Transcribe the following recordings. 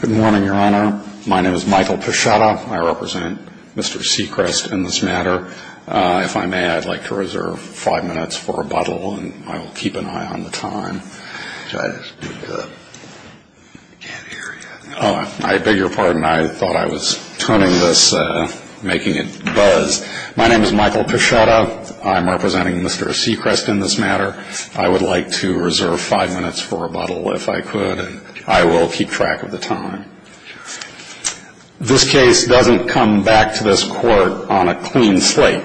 Good morning, Your Honor. My name is Michael Peschetta. I represent Mr. Sechrest in this matter. If I may, I'd like to reserve five minutes for rebuttal, and I will keep an eye on the time. I beg your pardon. I thought I was tuning this, making it buzz. My name is Michael Peschetta. I'm representing Mr. Sechrest in this matter. I would like to reserve five minutes for rebuttal, if I could. And I will keep track of the time. This case doesn't come back to this Court on a clean slate.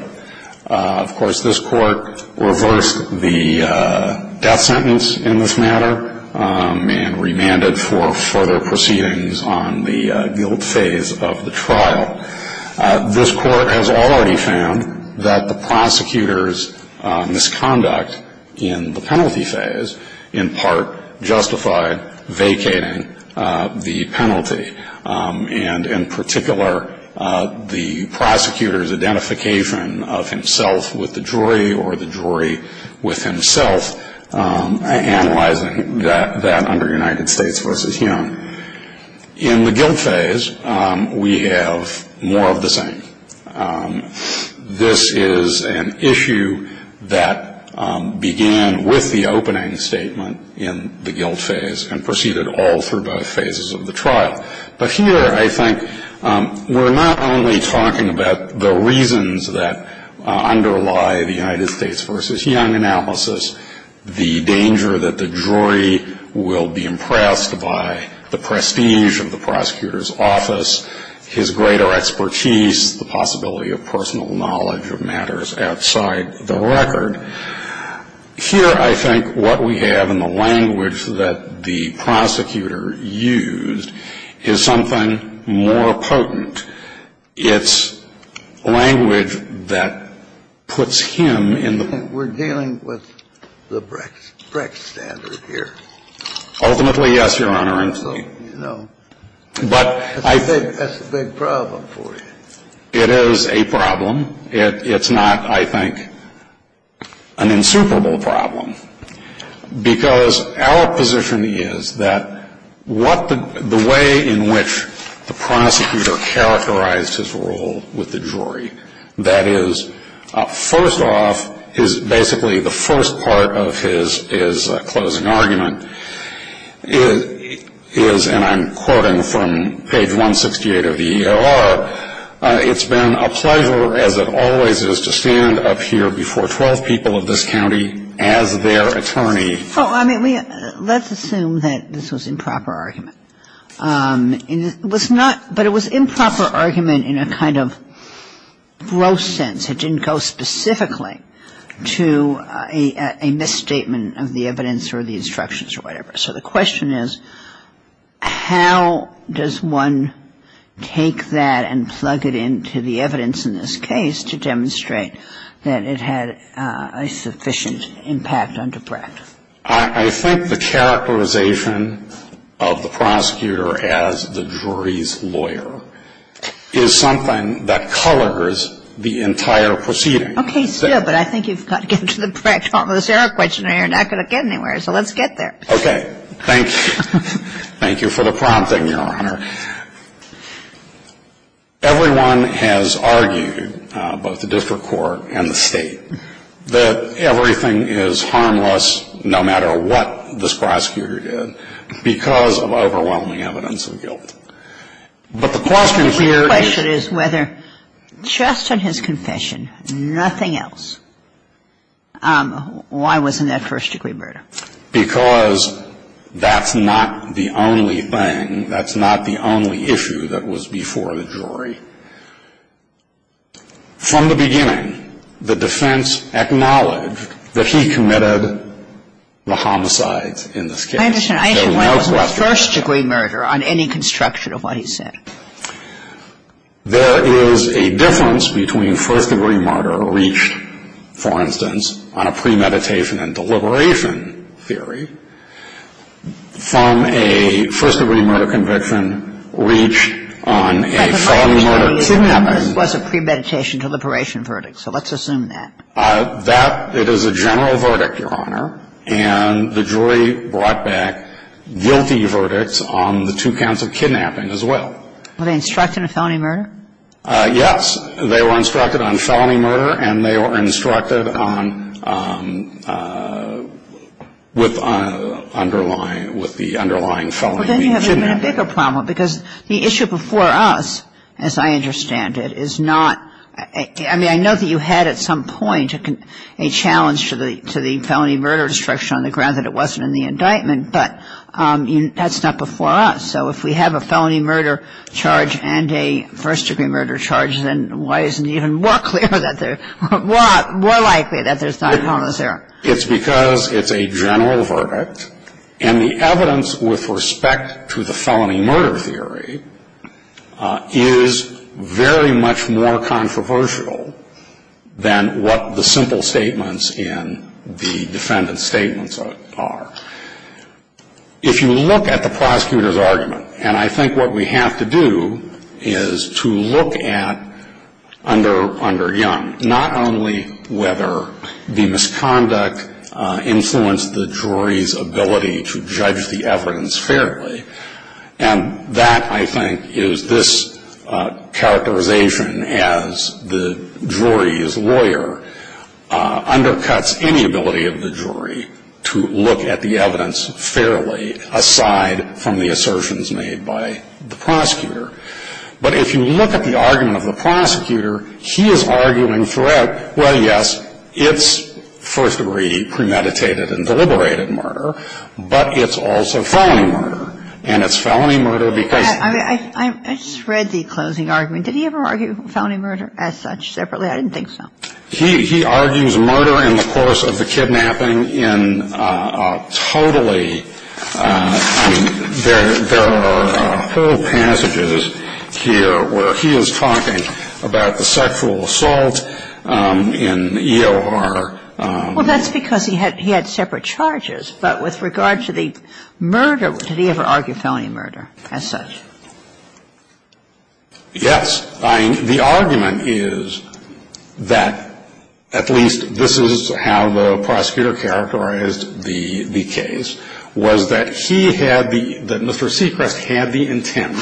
Of course, this Court reversed the death sentence in this matter and remanded for further proceedings on the guilt phase of the trial. This Court has already found that the prosecutor's misconduct in the penalty phase, in part, justified vacating the penalty. And in particular, the prosecutor's identification of himself with the jury or the jury with himself, analyzing that under United States v. Hume. In the guilt phase, we have more of the same. This is an issue that began with the opening statement in the guilt phase and proceeded all through both phases of the trial. But here, I think, we're not only talking about the reasons that underlie the United States v. Hume analysis, the danger that the jury will be impressed by the prestige of the prosecutor's office, his greater expertise, the possibility of personal knowledge of matters outside the record. But here, I think, what we have in the language that the prosecutor used is something more potent. It's language that puts him in the room. We're dealing with the Brex standard here. Ultimately, yes, Your Honor. So, you know, that's a big problem for you. It is a problem. It's not, I think, an insuperable problem. Because our position is that what the way in which the prosecutor characterized his role with the jury, that is, first off, is basically the first part of his closing argument is, and I'm quoting from page 168 of the EOR, it's been a pleasure, as it always is, to stand up here before 12 people of this county as their attorney. Well, I mean, let's assume that this was improper argument. It was not, but it was improper argument in a kind of gross sense. It didn't go specifically to a misstatement of the evidence or the instructions or whatever. So the question is, how does one take that and plug it into the evidence in this case to demonstrate that it had a sufficient impact under Brecht? I think the characterization of the prosecutor as the jury's lawyer is something that colors the entire proceeding. Okay, still, but I think you've got to get to the Brecht-Holmes error question or you're not going to get anywhere, so let's get there. Okay. Thank you. Thank you for the prompting, Your Honor. Everyone has argued, both the district court and the State, that everything is harmless, no matter what this prosecutor did, because of overwhelming evidence of guilt. But the question here is — My question is whether, just on his confession, nothing else, why wasn't that first-degree murder? Because that's not the only thing. That's not the only issue that was before the jury. From the beginning, the defense acknowledged that he committed the homicides in this case. I understand. I understand why it was a first-degree murder on any construction of what he said. There is a difference between first-degree murder reached, for instance, on a premeditation and deliberation theory, from a first-degree murder conviction reached on a felony murder kidnapping. But the claim is that this was a premeditation-deliberation verdict, so let's assume that. It is a general verdict, Your Honor, and the jury brought back guilty verdicts on the two counts of kidnapping as well. Were they instructed on felony murder? Yes. They were instructed on felony murder, and they were instructed on — with underlying — with the underlying felony being kidnapping. Well, then you have a bigger problem, because the issue before us, as I understand it, is not — I mean, I know that you had at some point a challenge to the felony murder instruction on the ground that it wasn't in the indictment, but that's not before us. So if we have a felony murder charge and a first-degree murder charge, then why isn't it even more clear that there — more likely that there's not a problem there? It's because it's a general verdict, and the evidence with respect to the felony murder theory is very much more controversial than what the simple statements in the defendant's statements are. If you look at the prosecutor's argument, and I think what we have to do is to look at under Young, not only whether the misconduct influenced the jury's ability to judge the evidence fairly, and that, I think, is this characterization as the jury's lawyer undercuts any ability of the jury to look at the evidence fairly aside from the assertions made by the prosecutor. But if you look at the argument of the prosecutor, he is arguing throughout, well, yes, it's first-degree premeditated and deliberated murder, but it's also felony murder. And it's felony murder because — I just read the closing argument. Did he ever argue felony murder as such separately? I didn't think so. He argues murder in the course of the kidnapping in a totally — I mean, there are whole passages here where he is talking about the sexual assault in E.O.R. Well, that's because he had separate charges. But with regard to the murder, did he ever argue felony murder as such? Yes. I mean, the argument is that at least this is how the prosecutor characterized the case, was that he had the — that Mr. Sechrest had the intent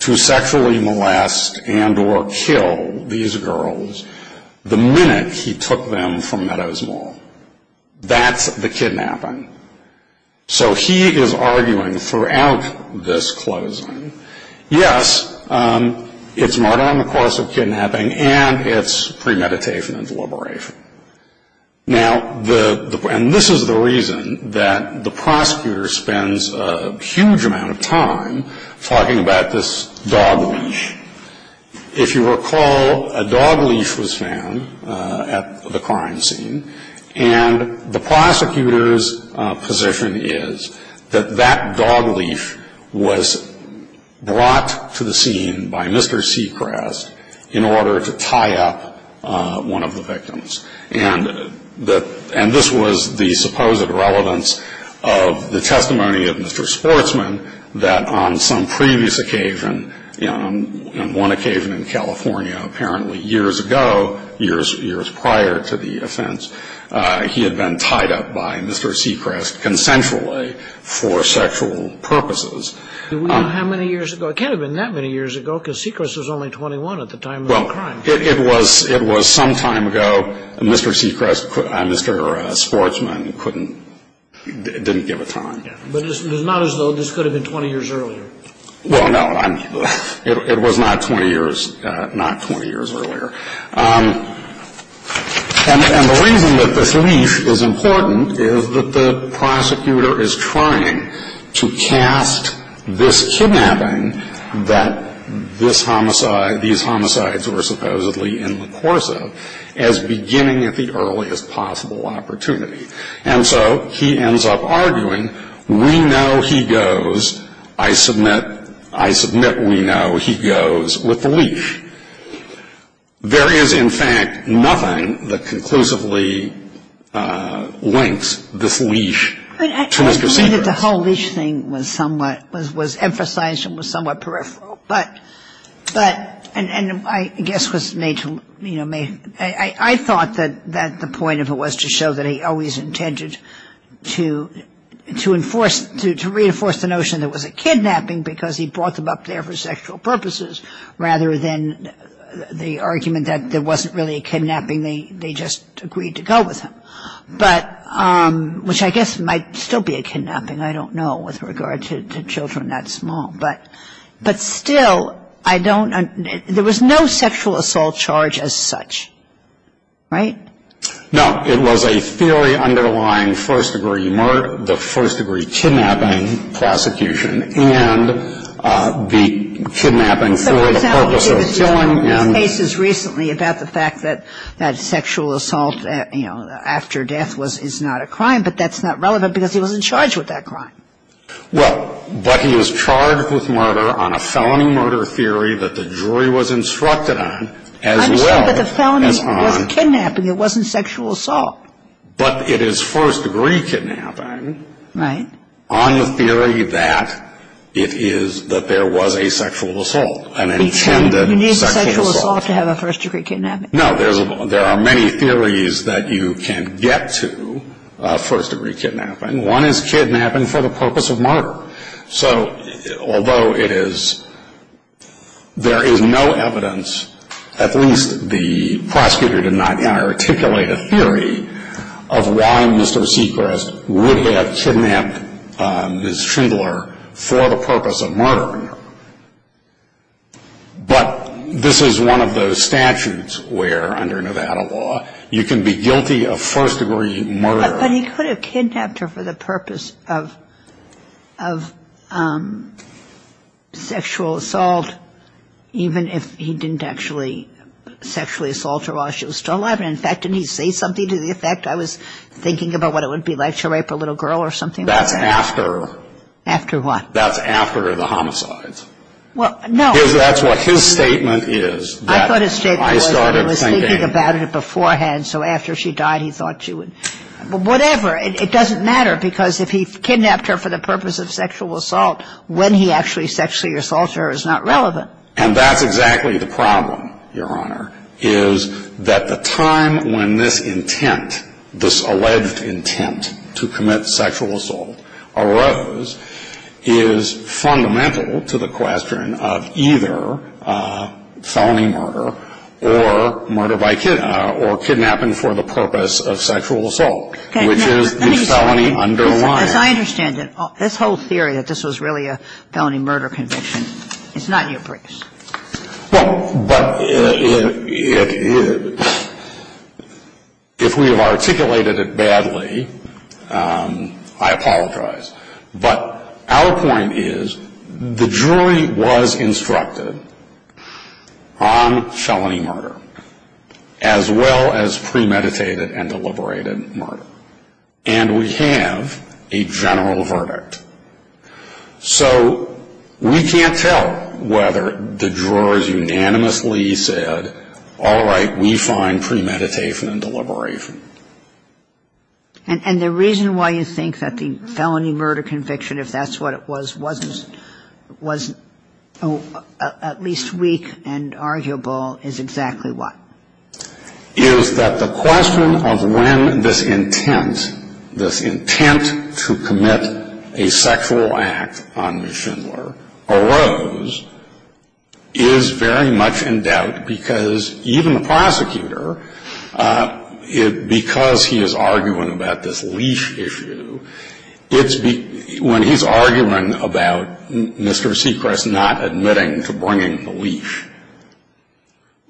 to sexually molest and or kill these girls the minute he took them to court. That's the kidnapping. So he is arguing throughout this closing, yes, it's murder in the course of kidnapping, and it's premeditation and deliberation. Now, the — and this is the reason that the prosecutor spends a huge amount of time talking about this dog leash. If you recall, a dog leash was found at the crime scene. And the prosecutor's position is that that dog leash was brought to the scene by Mr. Sechrest in order to tie up one of the victims. And this was the supposed relevance of the testimony of Mr. Sportsman that on some previous occasion, on one occasion in California, apparently years ago, years prior to the offense, he had been tied up by Mr. Sechrest consensually for sexual purposes. How many years ago? It can't have been that many years ago, because Sechrest was only 21 at the time of the crime. It was some time ago. Mr. Sechrest and Mr. Sportsman couldn't — didn't give a time. But it's not as though this could have been 20 years earlier. Well, no. It was not 20 years earlier. And the reason that this leash is important is that the prosecutor is trying to cast this kidnapping that this homicide — these homicides were supposedly in the course of as beginning at the earliest possible opportunity. And so he ends up arguing, we know he goes, I submit — I submit we know he goes with the leash. There is, in fact, nothing that conclusively links this leash to Mr. Sechrest. I understand that the whole leash thing was somewhat — was emphasized and was somewhat peripheral. But — but — and I guess was made to — you know, made — I thought that the point of it was to show that he always intended to enforce — to reinforce the notion there was a kidnapping because he brought them up there for sexual purposes, rather than the argument that there wasn't really a kidnapping, they just agreed to go with him. But — which I guess might still be a kidnapping. I don't know with regard to children that small. But — but still, I don't — there was no sexual assault charge as such. Right? No. It was a theory underlying first-degree murder, the first-degree kidnapping, prosecution, and the kidnapping for the purpose of killing and — But, for example, you gave it to me in cases recently about the fact that that sexual assault, you know, after death was — is not a crime. But that's not relevant because he was in charge with that crime. Well, but he was charged with murder on a felony murder theory that the jury was instructed on, as well as on — It wasn't sexual assault. But it is first-degree kidnapping. Right. On the theory that it is — that there was a sexual assault, an intended sexual assault. You need sexual assault to have a first-degree kidnapping. No, there's a — there are many theories that you can get to first-degree kidnapping. One is kidnapping for the purpose of murder. So, although it is — there is no evidence, at least the prosecutor did not articulate a theory, of why Mr. Seacrest would have kidnapped Ms. Schindler for the purpose of murdering her. But this is one of those statutes where, under Nevada law, you can be guilty of first-degree murder. But he could have kidnapped her for the purpose of sexual assault, even if he didn't actually sexually assault her while she was still alive. And, in fact, didn't he say something to the effect, I was thinking about what it would be like to rape a little girl or something like that? That's after — After what? That's after the homicides. Well, no — Because that's what his statement is. I thought his statement was that he was thinking about it beforehand. So after she died, he thought she would — whatever. It doesn't matter, because if he kidnapped her for the purpose of sexual assault, when he actually sexually assaulted her is not relevant. And that's exactly the problem, Your Honor, is that the time when this intent, this alleged intent to commit sexual assault arose, is fundamental to the question of either felony murder or murder by — or kidnapping for the purpose of sexual assault, which is the felony underlying. Now, let me say — As I understand it, this whole theory that this was really a felony murder conviction is not your briefs. Well, but if we have articulated it badly, I apologize. But our point is the jury was instructed on felony murder as well as premeditated and deliberated murder. And we have a general verdict. So we can't tell whether the jurors unanimously said, all right, we find premeditation and deliberation. And the reason why you think that the felony murder conviction, if that's what it was, wasn't at least weak and arguable is exactly what? Is that the question of when this intent, this intent to commit a sexual act on Ms. Schindler arose, is very much in doubt. Because even the prosecutor, because he is arguing about this leash issue, it's — when he's arguing about Mr. Seacrest not admitting to bringing the leash,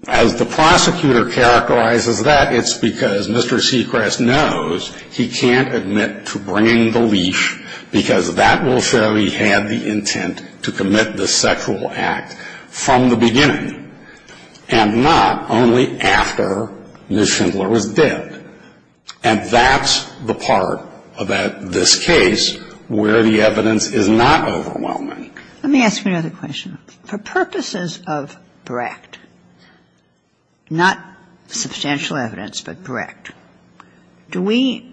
as the prosecutor characterizes that, it's because Mr. Seacrest knows he can't admit to bringing the leash, because that will show he had the intent to commit the sexual act from the beginning, and not only after Ms. Schindler was dead. And that's the part about this case where the evidence is not overwhelming. Let me ask you another question. For purposes of Brecht, not substantial evidence, but Brecht, do we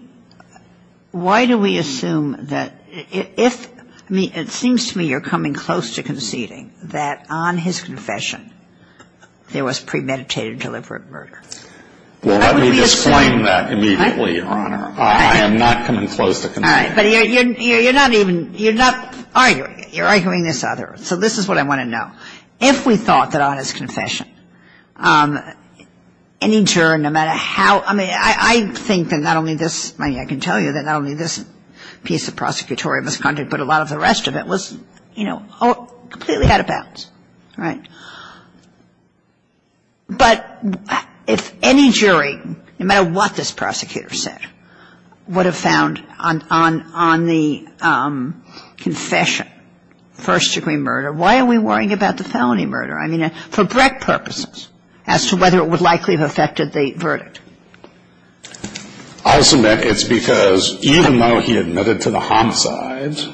— why do we assume that if — I mean, it seems to me you're coming close to conceding that on his confession, there was premeditated deliberate murder. Well, let me disclaim that immediately, Your Honor. I am not coming close to conceding. All right. But you're not even — you're not arguing. You're arguing this other. So this is what I want to know. If we thought that on his confession, any juror, no matter how — I mean, I think that not only this — I mean, I can tell you that not only this piece of prosecutorial misconduct, but a lot of the rest of it was, you know, completely out of bounds, right? But if any jury, no matter what this prosecutor said, would have found on the confession first-degree murder, why are we worrying about the felony murder? I mean, for Brecht purposes, as to whether it would likely have affected the verdict. I'll submit it's because even though he admitted to the homicides,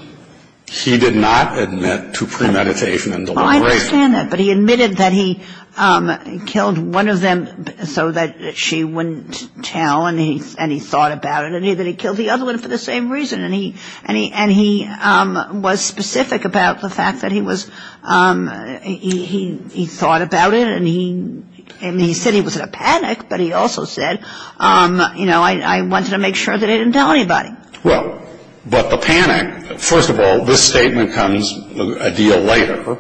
he did not admit to premeditation and deliberation. No, I understand that. But he admitted that he killed one of them so that she wouldn't tell, and he thought about it, and that he killed the other one for the same reason. And he was specific about the fact that he was — he thought about it, and he said he was in a panic, but he also said, you know, I wanted to make sure that I didn't tell anybody. Well, but the panic — first of all, this statement comes a deal later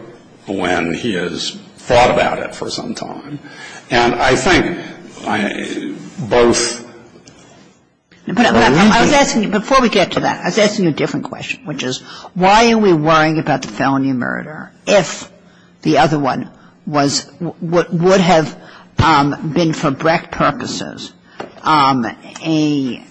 when he has thought about it for some time. And I think both — But I was asking you — before we get to that, I was asking you a different question, which is why are we worrying about the felony murder if the other one was — would have been for Brecht purposes such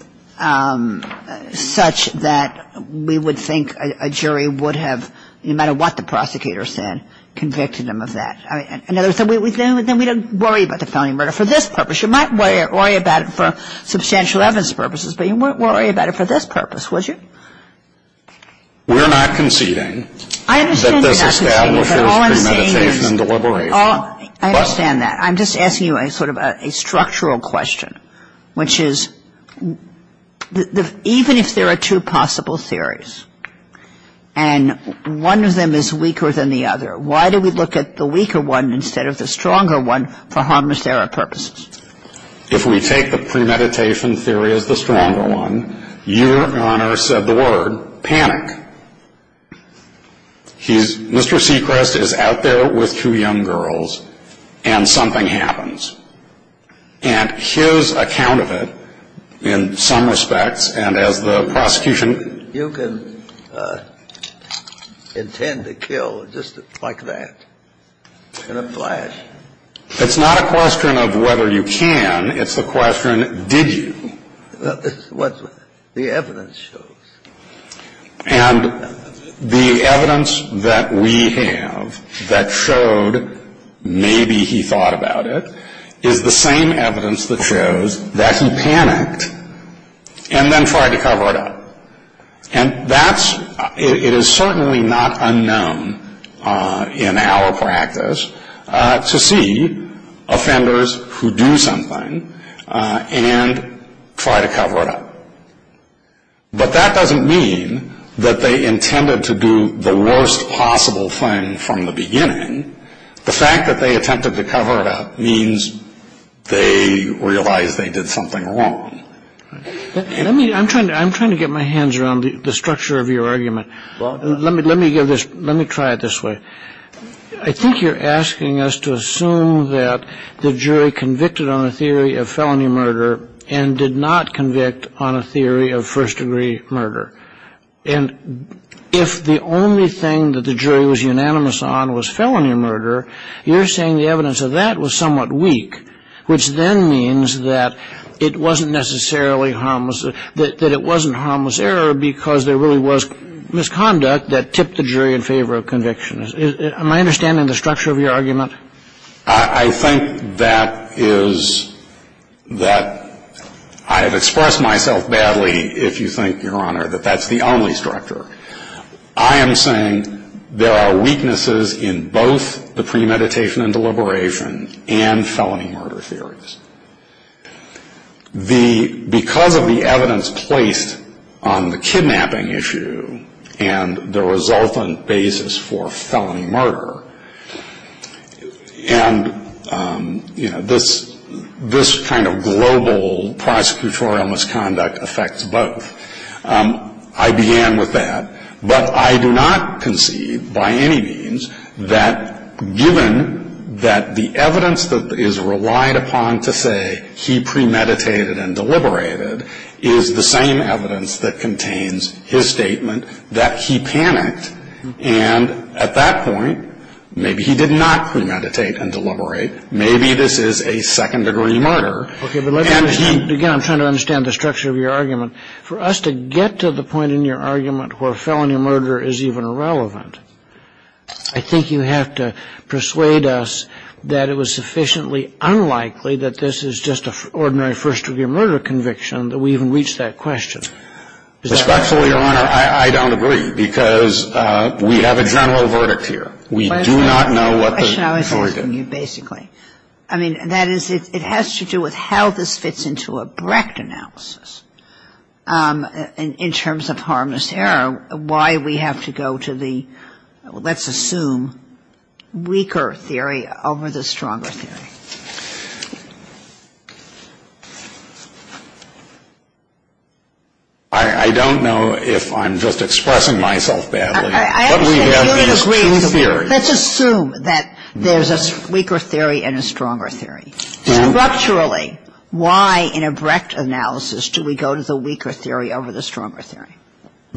that we would think a jury would have, no matter what the prosecutor said, convicted them of that? In other words, then we don't worry about the felony murder for this purpose. You might worry about it for substantial evidence purposes, but you wouldn't worry about it for this purpose, would you? We're not conceding that this establishes premeditation and deliberation. I understand that. I'm just asking you a sort of a structural question. Which is, even if there are two possible theories, and one of them is weaker than the other, why do we look at the weaker one instead of the stronger one for harmless error purposes? If we take the premeditation theory as the stronger one, your Honor said the word, panic. Mr. Sechrest is out there with two young girls, and something happens. And his account of it, in some respects, and as the prosecution — You can intend to kill just like that in a flash. It's not a question of whether you can. It's the question, did you? Well, this is what the evidence shows. And the evidence that we have that showed maybe he thought about it is the same evidence that shows that he panicked and then tried to cover it up. And that's — it is certainly not unknown in our practice to see offenders who do something and try to cover it up. But that doesn't mean that they intended to do the worst possible thing from the beginning. The fact that they attempted to cover it up means they realized they did something wrong. Let me — I'm trying to get my hands around the structure of your argument. Let me give this — let me try it this way. I think you're asking us to assume that the jury convicted on a theory of felony murder and did not convict on a theory of first-degree murder. And if the only thing that the jury was unanimous on was felony murder, you're saying the evidence of that was somewhat weak, which then means that it wasn't necessarily harmless — that it wasn't harmless error because there really was misconduct that tipped the jury in favor of conviction. Am I understanding the structure of your argument? I think that is — that I have expressed myself badly, if you think, Your Honor, that that's the only structure. I am saying there are weaknesses in both the premeditation and deliberation and felony murder theories. The — because of the evidence placed on the kidnapping issue and the resultant basis for felony murder, and, you know, this kind of global prosecutorial misconduct affects both. I began with that. But I do not concede by any means that given that the evidence that is relied upon to say he premeditated and deliberated is the same evidence that contains his statement that he panicked. And at that point, maybe he did not premeditate and deliberate. Maybe this is a second-degree murder. Okay. But let me — again, I'm trying to understand the structure of your argument. For us to get to the point in your argument where felony murder is even relevant, I think you have to persuade us that it was sufficiently unlikely that this is just an ordinary first-degree murder conviction that we even reach that question. Respectfully, Your Honor, I don't agree, because we have a general verdict here. We do not know what the jury did. The question I was asking you, basically. I mean, that is, it has to do with how this fits into a Brecht analysis in terms of harmless error, why we have to go to the, let's assume, weaker theory over the stronger theory. I don't know if I'm just expressing myself badly. But we have these two theories. Let's assume that there's a weaker theory and a stronger theory. Structurally, why in a Brecht analysis do we go to the weaker theory over the stronger theory?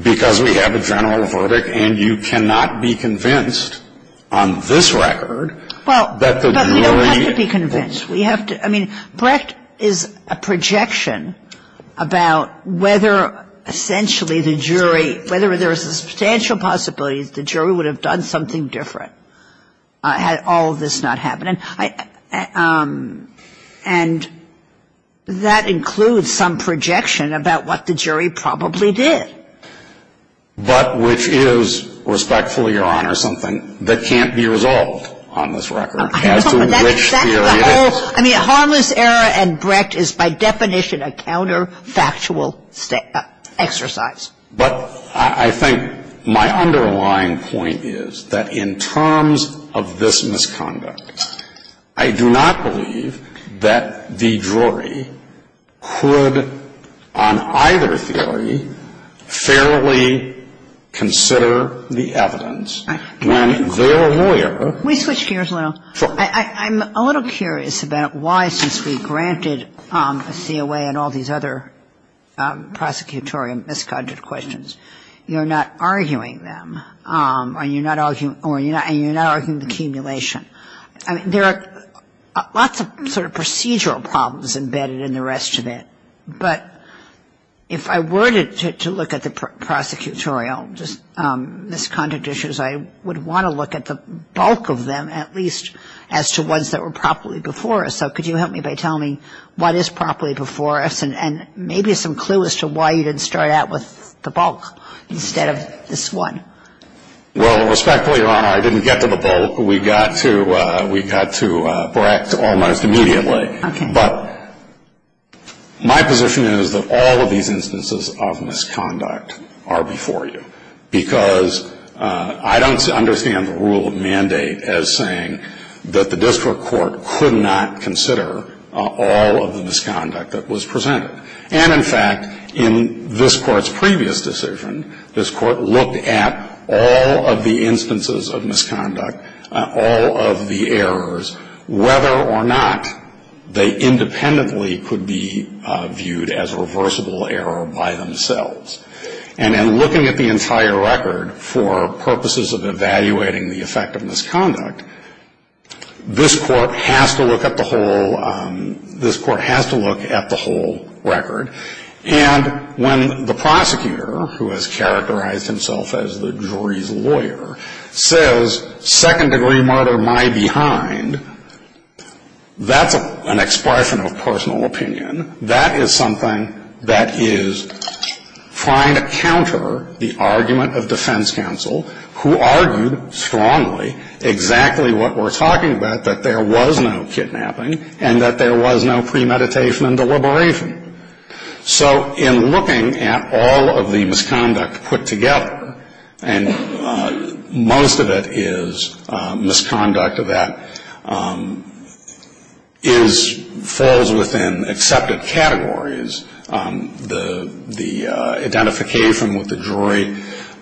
Because we have a general verdict, and you cannot be convinced on this record that the jury — But we don't have to be convinced. We have to — I mean, Brecht is a projection about whether essentially the jury — whether there are substantial possibilities the jury would have done something different had all of this not happened. And that includes some projection about what the jury probably did. But which is, respectfully, Your Honor, something that can't be resolved on this record as to which theory it is. I mean, harmless error and Brecht is by definition a counterfactual exercise. But I think my underlying point is that in terms of this misconduct, I do not believe that the jury could, on either theory, fairly consider the evidence when their lawyer — Can we switch gears a little? Sure. I'm a little curious about why, since we granted COA and all these other prosecutorial misconduct questions, you're not arguing them, and you're not arguing the accumulation. I mean, there are lots of sort of procedural problems embedded in the rest of it. But if I were to look at the prosecutorial misconduct issues, I would want to look at the bulk of them at least as to ones that were properly before us. So could you help me by telling me what is properly before us and maybe some clue as to why you didn't start out with the bulk instead of this one? Well, respectfully, Your Honor, I didn't get to the bulk. We got to Brecht almost immediately. But my position is that all of these instances of misconduct are before you because I don't understand the rule of mandate as saying that the district court could not consider all of the misconduct that was presented. And, in fact, in this Court's previous decision, this Court looked at all of the instances of misconduct, all of the errors, whether or not they independently could be viewed as a reversible error by themselves. And in looking at the entire record for purposes of evaluating the effect of misconduct, this Court has to look at the whole record. And when the prosecutor, who has characterized himself as the jury's lawyer, says second-degree murder, my behind, that's an expression of personal opinion. That is something that is trying to counter the argument of defense counsel, who argued strongly exactly what we're talking about, that there was no kidnapping and that there was no premeditation and deliberation. So in looking at all of the misconduct put together, and most of it is misconduct that falls within accepted categories, the identification with the jury,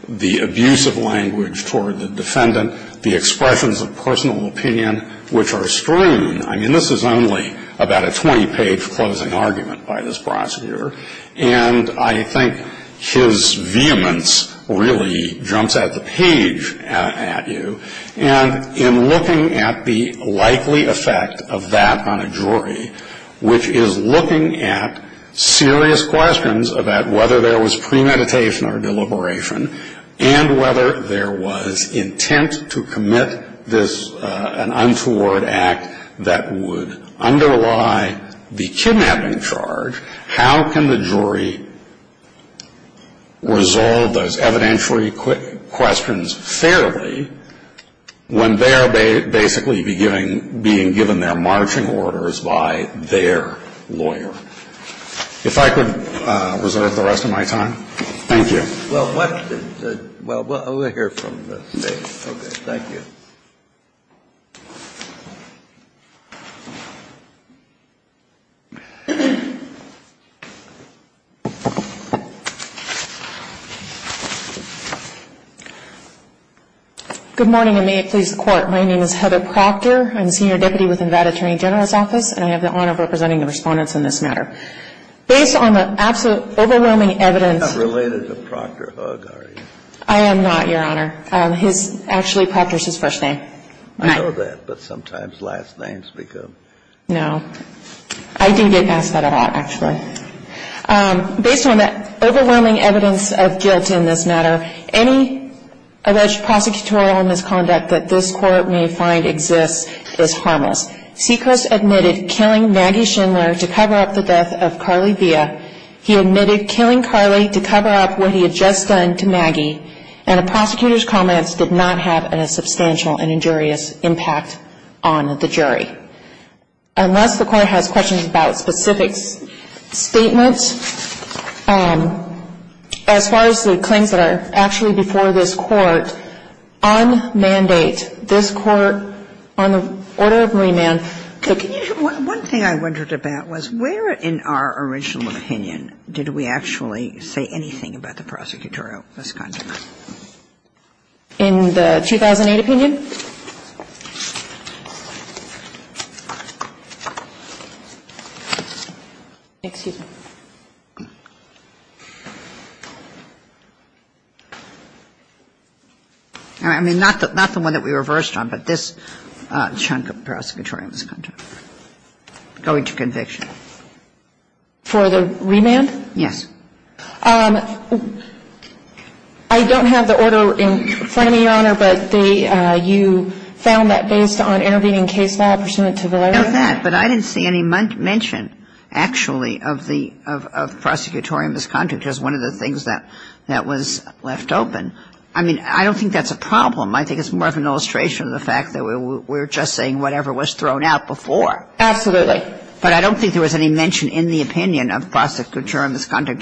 the abuse of language toward the defendant, the expressions of personal opinion, which are strewn. I mean, this is only about a 20-page closing argument by this prosecutor. And I think his vehemence really jumps at the page at you. And in looking at the likely effect of that on a jury, which is looking at serious questions about whether there was premeditation or deliberation and whether there was intent to commit an untoward act that would underlie the kidnapping charge, how can the jury resolve those evidentiary questions fairly when they are basically being given their marching orders by their lawyer? If I could reserve the rest of my time. Thank you. Well, what's the – well, we'll hear from the State. Okay. Thank you. Good morning, and may it please the Court. My name is Heather Proctor. I'm a senior deputy with the Nevada Attorney General's Office, and I have the honor of representing the Respondents in this matter. Based on the absolute overwhelming evidence of guilt in this matter, any alleged prosecutorial misconduct that this Court may find exists is harmless. Seekers admitted killing Maggie Schindler to cover up the death of Carly Villa. We are not going to cover up what he had just done to Maggie, and a prosecutor's comments did not have a substantial and injurious impact on the jury. Unless the Court has questions about specific statements, as far as the claims that are actually before this Court, on mandate, this Court on the order of remand, the can you just one thing I wondered about was where in our original opinion did we actually say anything about the prosecutorial misconduct? In the 2008 opinion? Excuse me. I mean not the one that we reversed on, but this chunk of prosecutorial misconduct, going to conviction. For the remand? Yes. I don't have the order in front of me, Your Honor, but you found that based on intervening case law pursuant to Valera? Not that, but I didn't see any mention actually of the prosecutorial misconduct as one of the things that was left open. I mean, I don't think that's a problem. I think it's more of an illustration of the fact that we're just saying whatever was thrown out before. Absolutely. But I don't think there was any mention in the opinion of prosecutorial misconduct.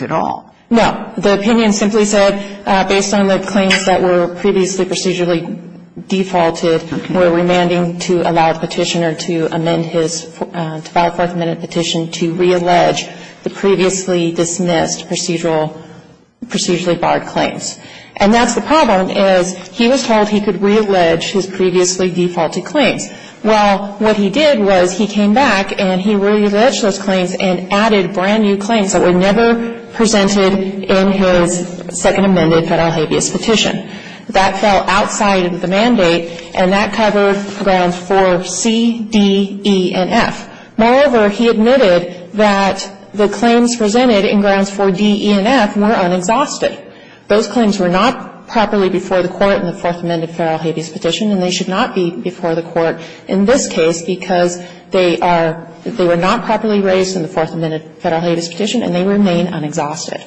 And that's the problem is he was told he could reallege his previously defaulted claims. Well, what he did was he came back and he realleged those claims and added brand new claims that were never presented in his second amended federal habeas petition. That fell outside of the mandate, and that covered grounds for C, D, E, and F. Moreover, he admitted that the claims presented in grounds for D, E, and F were unexhausted. Those claims were not properly before the Court in the fourth amended federal habeas petition, and they should not be before the Court in this case because they are they were not properly raised in the fourth amended federal habeas petition, and they remain unexhausted.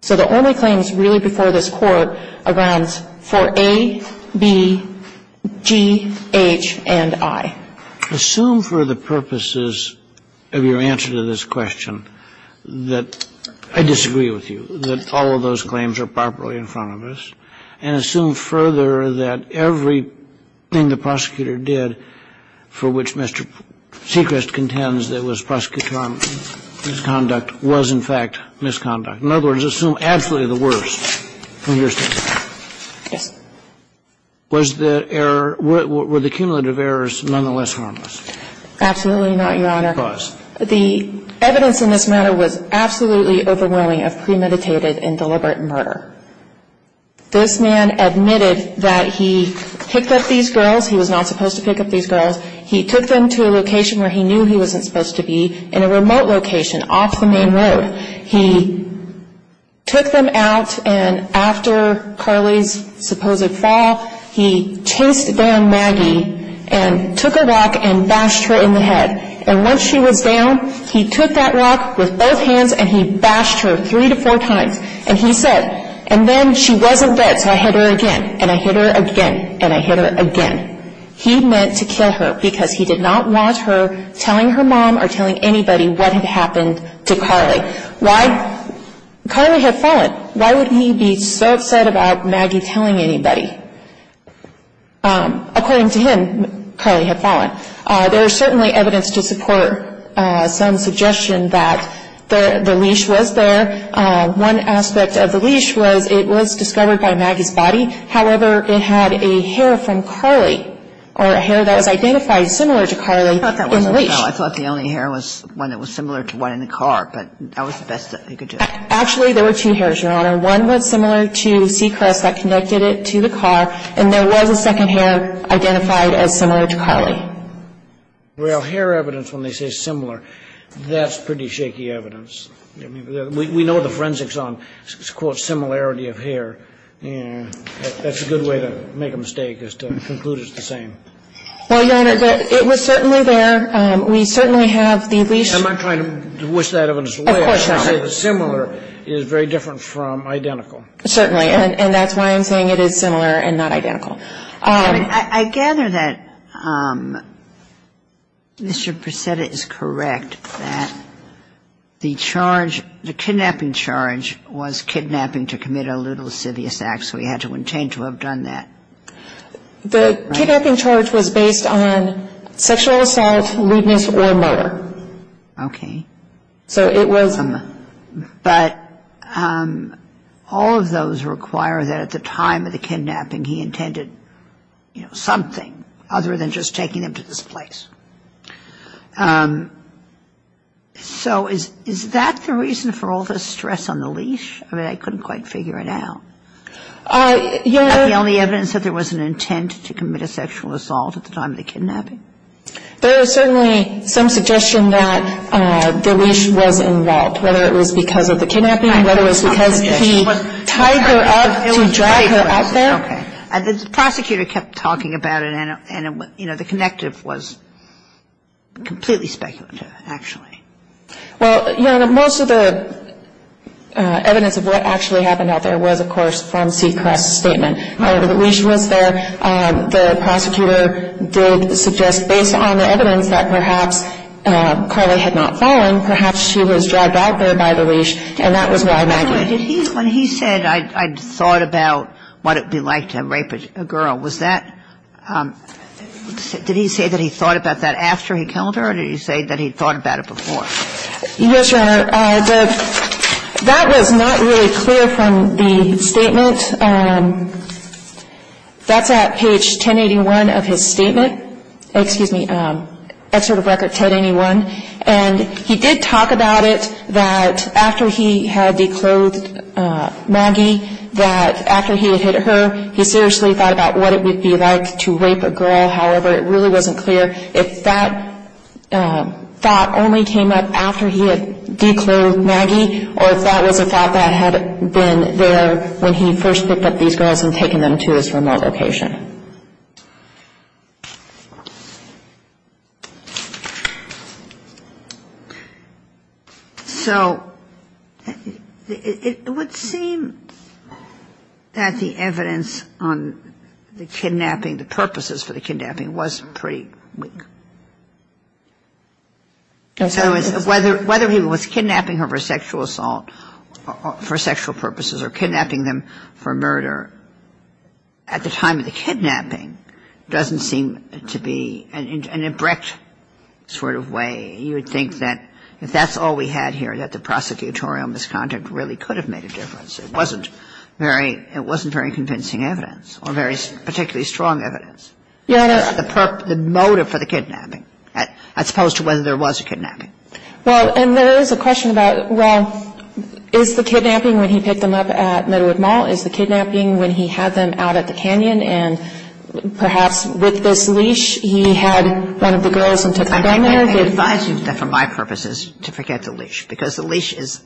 So the only claims really before this Court are grounds for A, B, G, H, and I. Assume for the purposes of your answer to this question that I disagree with you, that all of those claims are properly in front of us, and assume further that every thing the prosecutor did for which Mr. Sechrist contends that was prosecutorial misconduct was, in fact, misconduct. In other words, assume absolutely the worst from your standpoint. Yes. Was the error, were the cumulative errors nonetheless harmless? Absolutely not, Your Honor. Because? The evidence in this matter was absolutely overwhelming of premeditated and deliberate murder. This man admitted that he picked up these girls. He was not supposed to pick up these girls. He took them to a location where he knew he wasn't supposed to be in a remote location off the main road. He took them out, and after Carly's supposed fall, he chased down Maggie and took a rock and bashed her in the head. And once she was down, he took that rock with both hands and he bashed her three to four times. And he said, and then she wasn't dead, so I hit her again, and I hit her again, and I hit her again. He meant to kill her because he did not want her telling her mom or telling anybody what had happened to Carly. Why? Carly had fallen. Why would he be so upset about Maggie telling anybody? According to him, Carly had fallen. There is certainly evidence to support some suggestion that the leash was there. One aspect of the leash was it was discovered by Maggie's body. However, it had a hair from Carly or a hair that was identified similar to Carly in the leash. Well, I thought the only hair was one that was similar to one in the car, but that was the best he could do. Actually, there were two hairs, Your Honor. One was similar to seacrest that connected it to the car, and there was a second hair identified as similar to Carly. Well, hair evidence, when they say similar, that's pretty shaky evidence. We know the forensics on, quote, similarity of hair. That's a good way to make a mistake is to conclude it's the same. Well, Your Honor, it was certainly there. We certainly have the leash. I'm not trying to wish that of a lawyer. Of course not. Similar is very different from identical. Certainly. And that's why I'm saying it is similar and not identical. I gather that Mr. Preseda is correct that the charge, the kidnapping charge, was kidnapping to commit a lewd or lascivious act, so he had to intain to have done that. The kidnapping charge was based on sexual assault, lewdness, or murder. Okay. So it was a murder. But all of those require that at the time of the kidnapping he intended, you know, something other than just taking them to this place. So is that the reason for all this stress on the leash? I mean, I couldn't quite figure it out. Your Honor. The only evidence that there was an intent to commit a sexual assault at the time of the kidnapping? There is certainly some suggestion that the leash was involved, whether it was because of the kidnapping, whether it was because he tied her up to drag her out there. Okay. The prosecutor kept talking about it and, you know, the connective was completely speculative, actually. Well, Your Honor, most of the evidence of what actually happened out there was, of course, from Seacrest's statement. However, the leash was there. The prosecutor did suggest, based on the evidence, that perhaps Carly had not fallen, perhaps she was dragged out there by the leash, and that was why Maggie was there. When he said, I thought about what it would be like to rape a girl, was that – did he say that he thought about that after he killed her, or did he say that he thought about it before? Yes, Your Honor. That was not really clear from the statement. That's at page 1081 of his statement. Excuse me. Excerpt of record 1081. And he did talk about it, that after he had declothed Maggie, that after he had hit her, he seriously thought about what it would be like to rape a girl. However, it really wasn't clear if that thought only came up after he had declothed Maggie, or if that was a thought that had been there when he first picked up these girls and taken them to his remote location. So it would seem that the evidence on the kidnapping, the purposes for the kidnapping, was pretty weak. So whether he was kidnapping her for sexual assault, for sexual purposes, or kidnapping them for murder, at the time of the kidnapping, it doesn't seem to be an abrupt sort of way. You would think that if that's all we had here, that the prosecutorial misconduct really could have made a difference. It wasn't very convincing evidence, or particularly strong evidence. Your Honor. The motive for the kidnapping, as opposed to whether there was a kidnapping. Well, and there is a question about, well, is the kidnapping when he picked them up at Midwood Mall, is the kidnapping when he had them out at the canyon, and perhaps with this leash he had one of the girls and took them down there? I advise you that for my purposes to forget the leash, because the leash is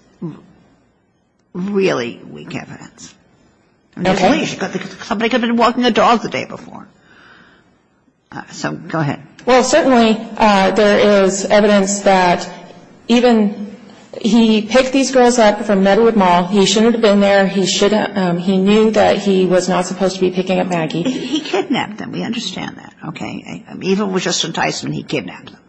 really weak evidence. Okay. Somebody could have been walking a dog the day before. So go ahead. Well, certainly there is evidence that even he picked these girls up from Midwood Mall. He shouldn't have been there. He knew that he was not supposed to be picking up Maggie. He kidnapped them. We understand that. Okay. Even with just enticement, he kidnapped them.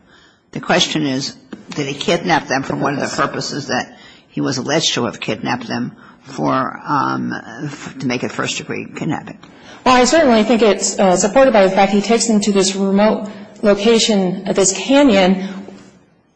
The question is, did he kidnap them for one of the purposes that he was alleged to have kidnapped them to make a first-degree kidnapping? Well, I certainly think it's supported by the fact he takes them to this remote location, this canyon.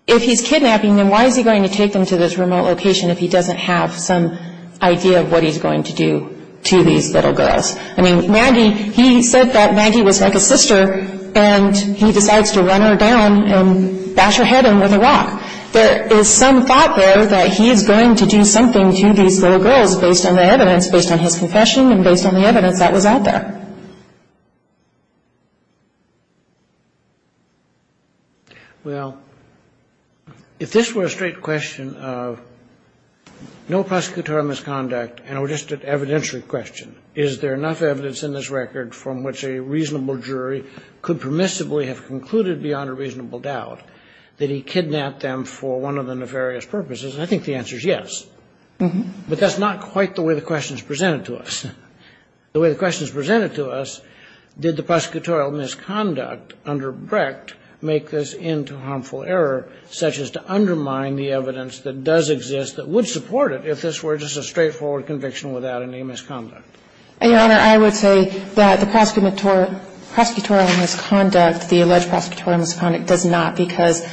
If he's kidnapping them, why is he going to take them to this remote location if he doesn't have some idea of what he's going to do to these little girls? I mean, Maggie, he said that Maggie was like a sister, and he decides to run her down and bash her head in with a rock. There is some thought, though, that he is going to do something to these little girls based on the evidence, based on his confession and based on the evidence that was out there. Well, if this were a straight question of no prosecutorial misconduct and it were just an evidentiary question, is there enough evidence in this record from which a reasonable jury could permissibly have concluded beyond a reasonable doubt that he kidnapped them for one of the nefarious purposes? I think the answer is yes. But that's not quite the way the question is presented to us. The way the question is presented to us, did the prosecutorial misconduct under Brecht make this into harmful error, such as to undermine the evidence that does exist that would support it if this were just a straightforward conviction without any misconduct? Your Honor, I would say that the prosecutorial misconduct, the alleged prosecutorial misconduct does not, because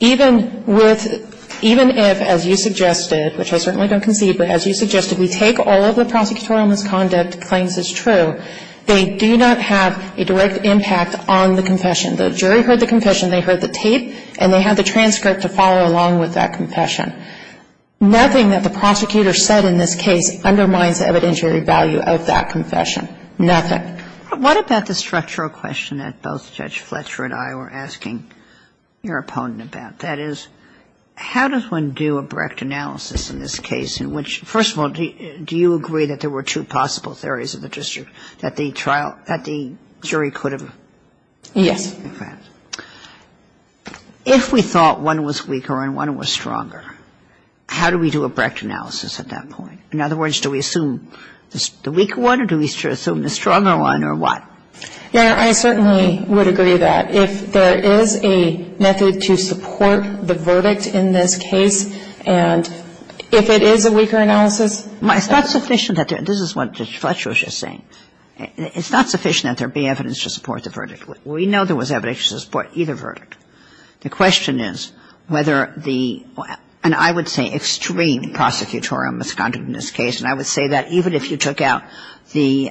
even if, as you suggested, which I certainly don't concede, but as you suggested, we take all of the prosecutorial misconduct claims as true, they do not have a direct impact on the confession. The jury heard the confession, they heard the tape, and they had the transcript to follow along with that confession. Nothing that the prosecutor said in this case undermines the evidentiary value of that confession. Nothing. What about the structural question that both Judge Fletcher and I were asking your opponent about? That is, how does one do a Brecht analysis in this case in which, first of all, do you agree that there were two possible theories of the district that the jury could have? Yes. Okay. If we thought one was weaker and one was stronger, how do we do a Brecht analysis at that point? In other words, do we assume the weaker one or do we assume the stronger one, or what? Yeah, I certainly would agree with that. If there is a method to support the verdict in this case, and if it is a weaker analysis... It's not sufficient that there – this is what Judge Fletcher was just saying. It's not sufficient that there be evidence to support the verdict. We know there was evidence to support either verdict. The question is whether the – and I would say extreme prosecutorial misconduct in this case, and I would say that even if you took out the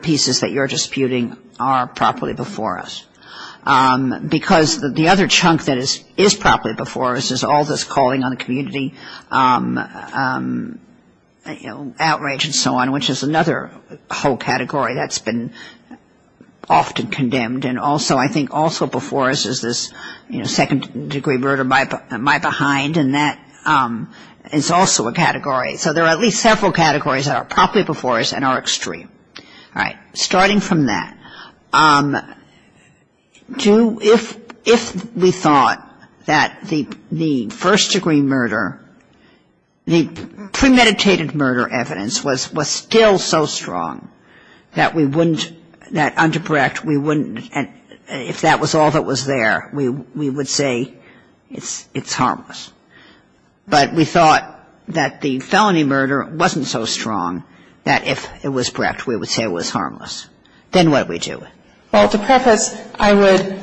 pieces that you're disputing are properly before us. Because the other chunk that is properly before us is all this calling on the community, outrage and so on, which is another whole category that's been often condemned. And also, I think also before us is this second-degree murder, my behind, and that is also a category. So there are at least several categories that are properly before us and are extreme. All right. Starting from that, do – if we thought that the first-degree murder, the premeditated murder evidence was still so strong that we wouldn't – that underbreak, we wouldn't – if that was all that was there, we would say it's harmless. But we thought that the felony murder wasn't so strong that if it was correct, we would say it was harmless. Then what do we do? Well, to preface, I would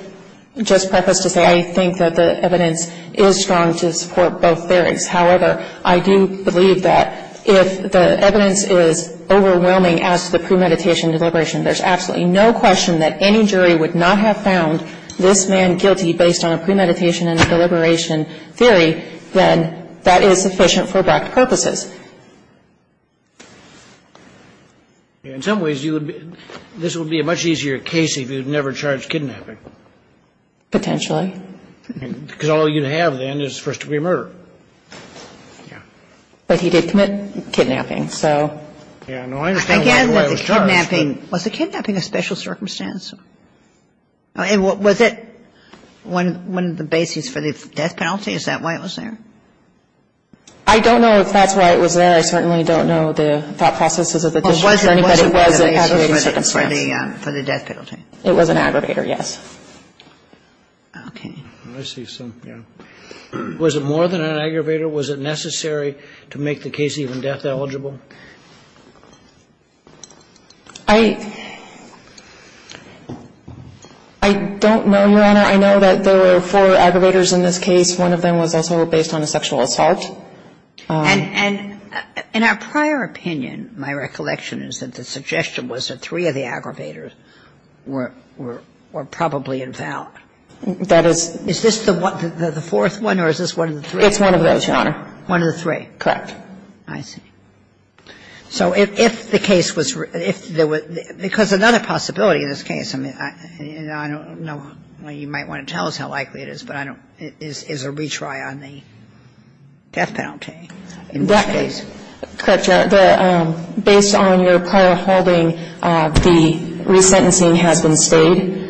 just preface to say I think that the evidence is strong to support both theories. However, I do believe that if the evidence is overwhelming as to the premeditation deliberation, there's absolutely no question that any jury would not have found this man guilty based on a premeditation and a deliberation theory than that is sufficient for bracket purposes. In some ways, you would be – this would be a much easier case if you'd never charged kidnapping. Potentially. Because all you'd have then is first-degree murder. Yeah. But he did commit kidnapping, so. Yeah, no, I understand why it was charged. Was the kidnapping a special circumstance? Was it one of the bases for the death penalty? Is that why it was there? I don't know if that's why it was there. I certainly don't know the thought processes of the district or anybody. But it was an aggravated circumstance. For the death penalty. It was an aggravator, yes. Okay. I see some – yeah. Was it more than an aggravator? Was it necessary to make the case even death eligible? I – I don't know, Your Honor. I know that there were four aggravators in this case. One of them was also based on a sexual assault. And – and in our prior opinion, my recollection is that the suggestion was that three of the aggravators were – were probably involved. That is – Is this the fourth one or is this one of the three? It's one of those, Your Honor. One of the three. Correct. I see. So if the case was – if there was – because another possibility in this case, and I don't know – you might want to tell us how likely it is, but I don't – is a retry on the death penalty in this case. Correct, Your Honor. The – based on your prior holding, the resentencing has been stayed.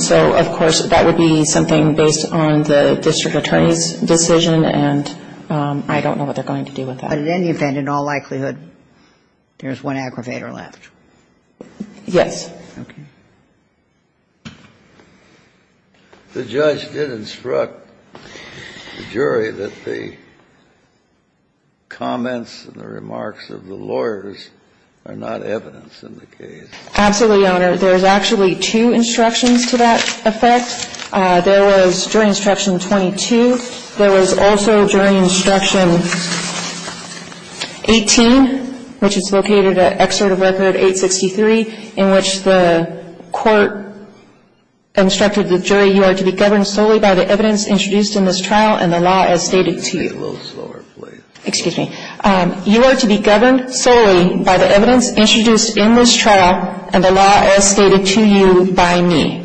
So, of course, that would be something based on the district attorney's decision and I don't know what they're going to do with that. But in any event, in all likelihood, there's one aggravator left. Yes. Okay. The judge did instruct the jury that the comments and the remarks of the lawyers are not evidence in the case. Absolutely, Your Honor. There's actually two instructions to that effect. There was – during Instruction 22, there was also during Instruction 18, which is located at Excerpt of Record 863, in which the court instructed the jury, you are to be governed solely by the evidence introduced in this trial and the law as stated to you. A little slower, please. Excuse me. You are to be governed solely by the evidence introduced in this trial and the law as stated to you by me.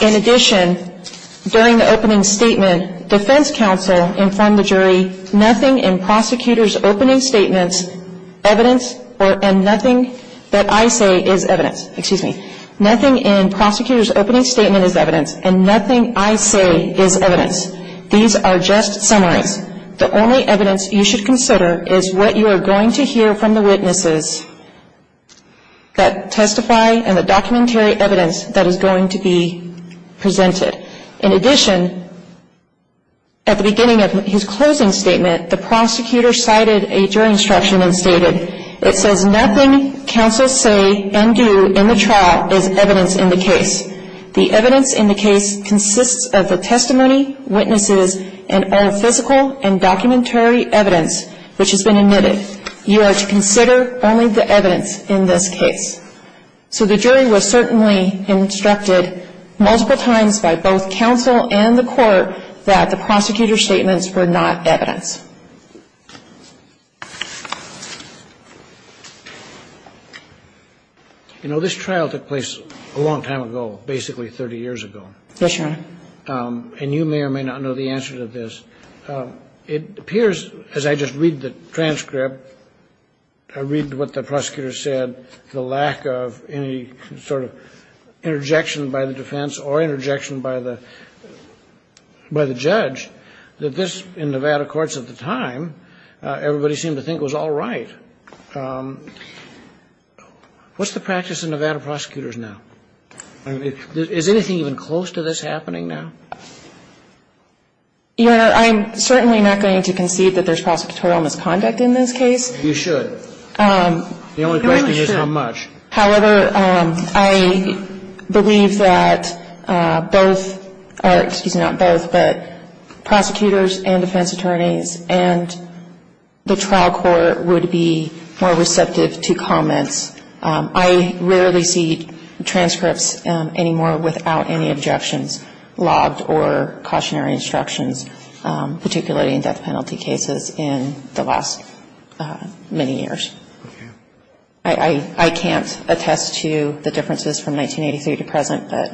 In addition, during the opening statement, defense counsel informed the jury nothing in prosecutor's opening statement is evidence and nothing I say is evidence. Excuse me. Nothing in prosecutor's opening statement is evidence and nothing I say is evidence. These are just summaries. The only evidence you should consider is what you are going to hear from the witnesses that testify and the documentary evidence that is going to be presented. In addition, at the beginning of his closing statement, the prosecutor cited a jury instruction and stated, it says nothing counsel say and do in the trial is evidence in the case. The evidence in the case consists of the testimony, witnesses, and all physical and documentary evidence which has been admitted. You are to consider only the evidence in this case. So the jury was certainly instructed multiple times by both counsel and the court that the prosecutor's statements were not evidence. You know, this trial took place a long time ago, basically 30 years ago. Yes, Your Honor. And you may or may not know the answer to this. It appears, as I just read the transcript, I read what the prosecutor said, the lack of any sort of interjection by the defense or interjection by the judge, that this, in Nevada courts at the time, everybody seemed to think was all right. What's the practice in Nevada prosecutors now? Is anything even close to this happening now? Your Honor, I'm certainly not going to concede that there's prosecutorial misconduct in this case. You should. The only question is how much. However, I believe that both, or excuse me, not both, but prosecutors and defense attorneys and the trial court would be more receptive to comments. I rarely see transcripts anymore without any objections logged or cautionary instructions, particularly in death penalty cases, in the last many years. Okay. I can't attest to the differences from 1983 to present, but.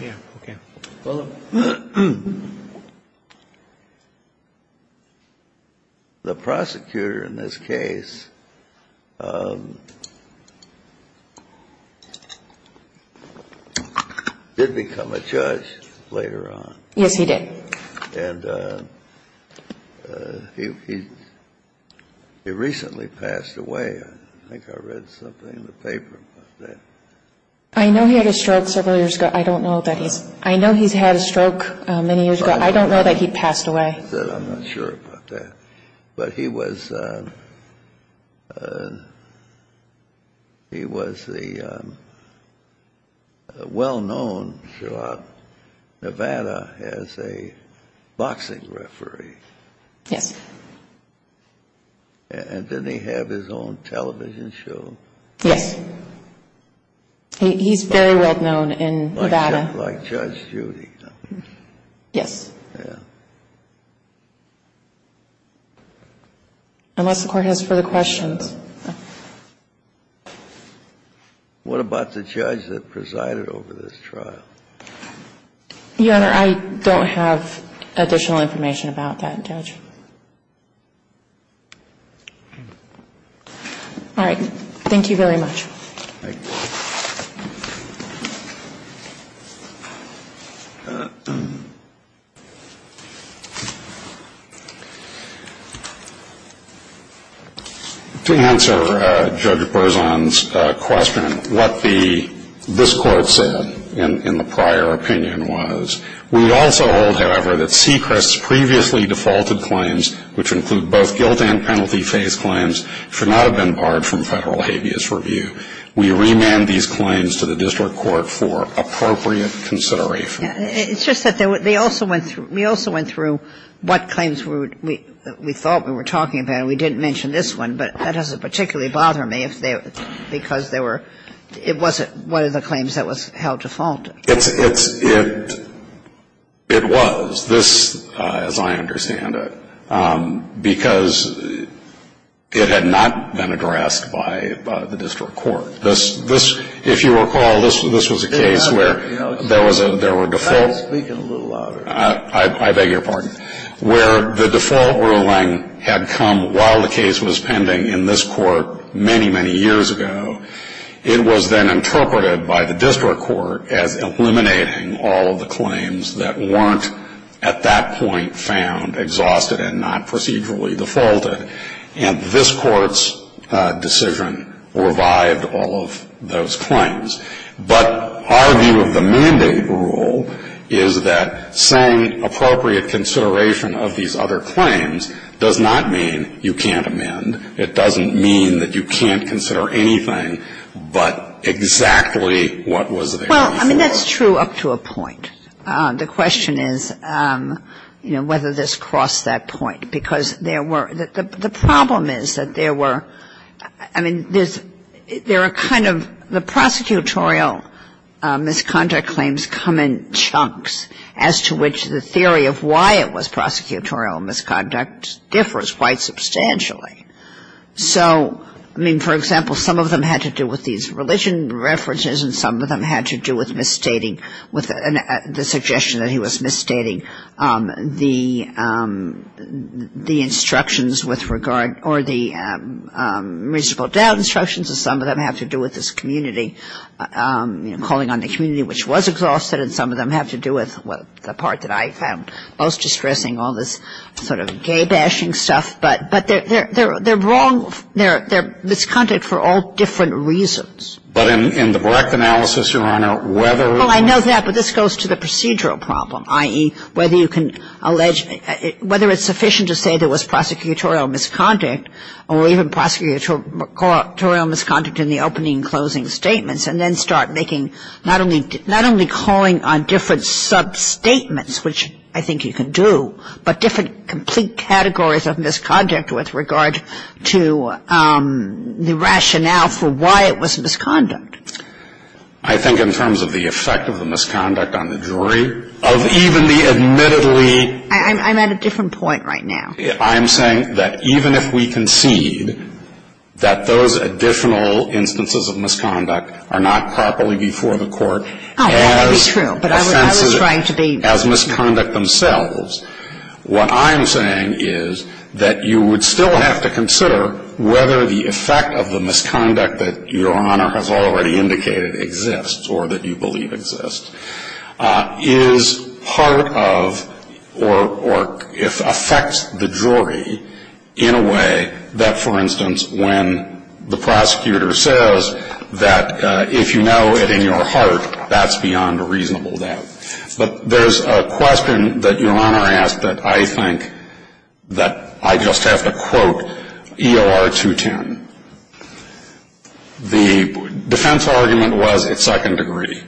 Yeah. Okay. Well, the prosecutor in this case did become a judge later on. Yes, he did. And he recently passed away. I think I read something in the paper about that. I know he had a stroke several years ago. I don't know. I know he's had a stroke many years ago. I don't know that he passed away. I'm not sure about that. But he was the well-known throughout Nevada as a boxing referee. Yes. And didn't he have his own television show? Yes. He's very well-known in Nevada. Like Judge Judy. Yes. Yeah. Unless the Court has further questions. What about the judge that presided over this trial? Your Honor, I don't have additional information about that judge. All right. Thank you very much. Thank you. To answer Judge Berzon's question, what this Court said in the prior opinion was, we also hold, however, that Sechrist's previously defaulted claims, which include both guilt and penalty-phase claims, should not have been barred from Federal habeas review. We remand these claims to the District Court for appropriate consideration. It's just that they also went through, we also went through what claims we thought we were talking about, and we didn't mention this one, but that doesn't particularly bother me because they were, it wasn't one of the claims that was held default. It's, it's, it, it was. This, as I understand it, because it had not been addressed by the District Court. This, this, if you recall, this was a case where there was a, there were defaults. Try speaking a little louder. I beg your pardon. Where the default ruling had come while the case was pending in this court many, many years ago. It was then interpreted by the District Court as eliminating all of the claims that weren't at that point found exhausted and not procedurally defaulted. And this court's decision revived all of those claims. But our view of the mandate rule is that saying appropriate consideration of these other claims does not mean you can't amend. It doesn't mean that you can't consider anything but exactly what was there before. Well, I mean, that's true up to a point. The question is, you know, whether this crossed that point. Because there were, the problem is that there were, I mean, there's, there are kind of, the prosecutorial misconduct claims come in chunks as to which the theory of why it was prosecutorial misconduct differs quite substantially. So, I mean, for example, some of them had to do with these religion references and some of them had to do with misstating, with the suggestion that he was misstating the instructions with regard or the reasonable doubt instructions. And some of them have to do with this community, you know, calling on the community which was exhausted. And some of them have to do with the part that I found most distressing, all this sort of gay-bashing stuff. But they're wrong, they're misconduct for all different reasons. But in the correct analysis, Your Honor, whether it was... Well, I know that. But this goes to the procedural problem, i.e., whether you can allege, whether it's sufficient to say there was prosecutorial misconduct or even prosecutorial misconduct in the opening and closing statements and then start making, not only calling on different sub-statements, which I think you can do, but different complete categories of misconduct with regard to the rationale for why it was misconduct. I think in terms of the effect of the misconduct on the jury, of even the admittedly... I'm at a different point right now. I'm saying that even if we concede that those additional instances of misconduct are not properly before the court... Oh, well, that is true. But I was trying to be... As misconduct themselves. What I'm saying is that you would still have to consider whether the effect of the misconduct that Your Honor has already indicated exists or that you believe exists is part of or if affects the jury in a way that, for instance, when the prosecutor says that if you know it in your heart, that's beyond a reasonable doubt. But there's a question that Your Honor asked that I think that I just have to quote EOR 210. The defense argument was at second degree.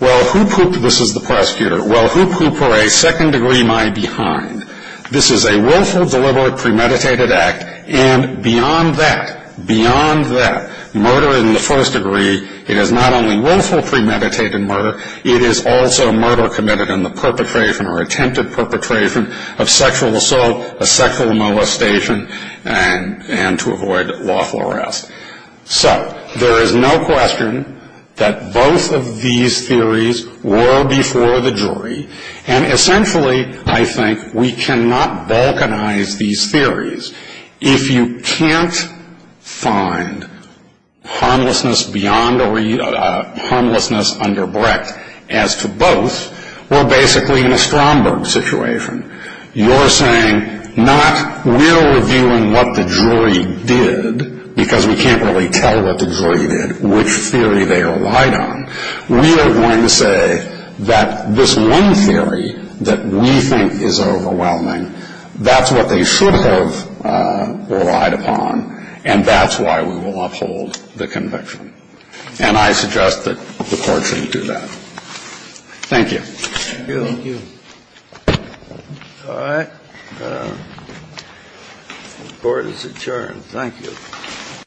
Well, who... This is the prosecutor. Well, who put for a second degree my behind? This is a willful, deliberate, premeditated act, and beyond that, beyond that murder in the first degree, it is not only willful premeditated murder, it is also murder committed in the perpetration or attempted perpetration of sexual assault, a sexual molestation, and to avoid lawful arrest. So there is no question that both of these theories were before the jury, and essentially, I think, we cannot balkanize these theories. If you can't find harmlessness beyond or harmlessness underbred as to both, we're basically in a Stromberg situation. You're saying not we're reviewing what the jury did because we can't really tell what the jury did, which theory they relied on. We are going to say that this one theory that we think is overwhelming, that's what they should have relied upon, and that's why we will uphold the conviction. And I suggest that the Court shouldn't do that. Thank you. Thank you. All right. The Court is adjourned. Thank you.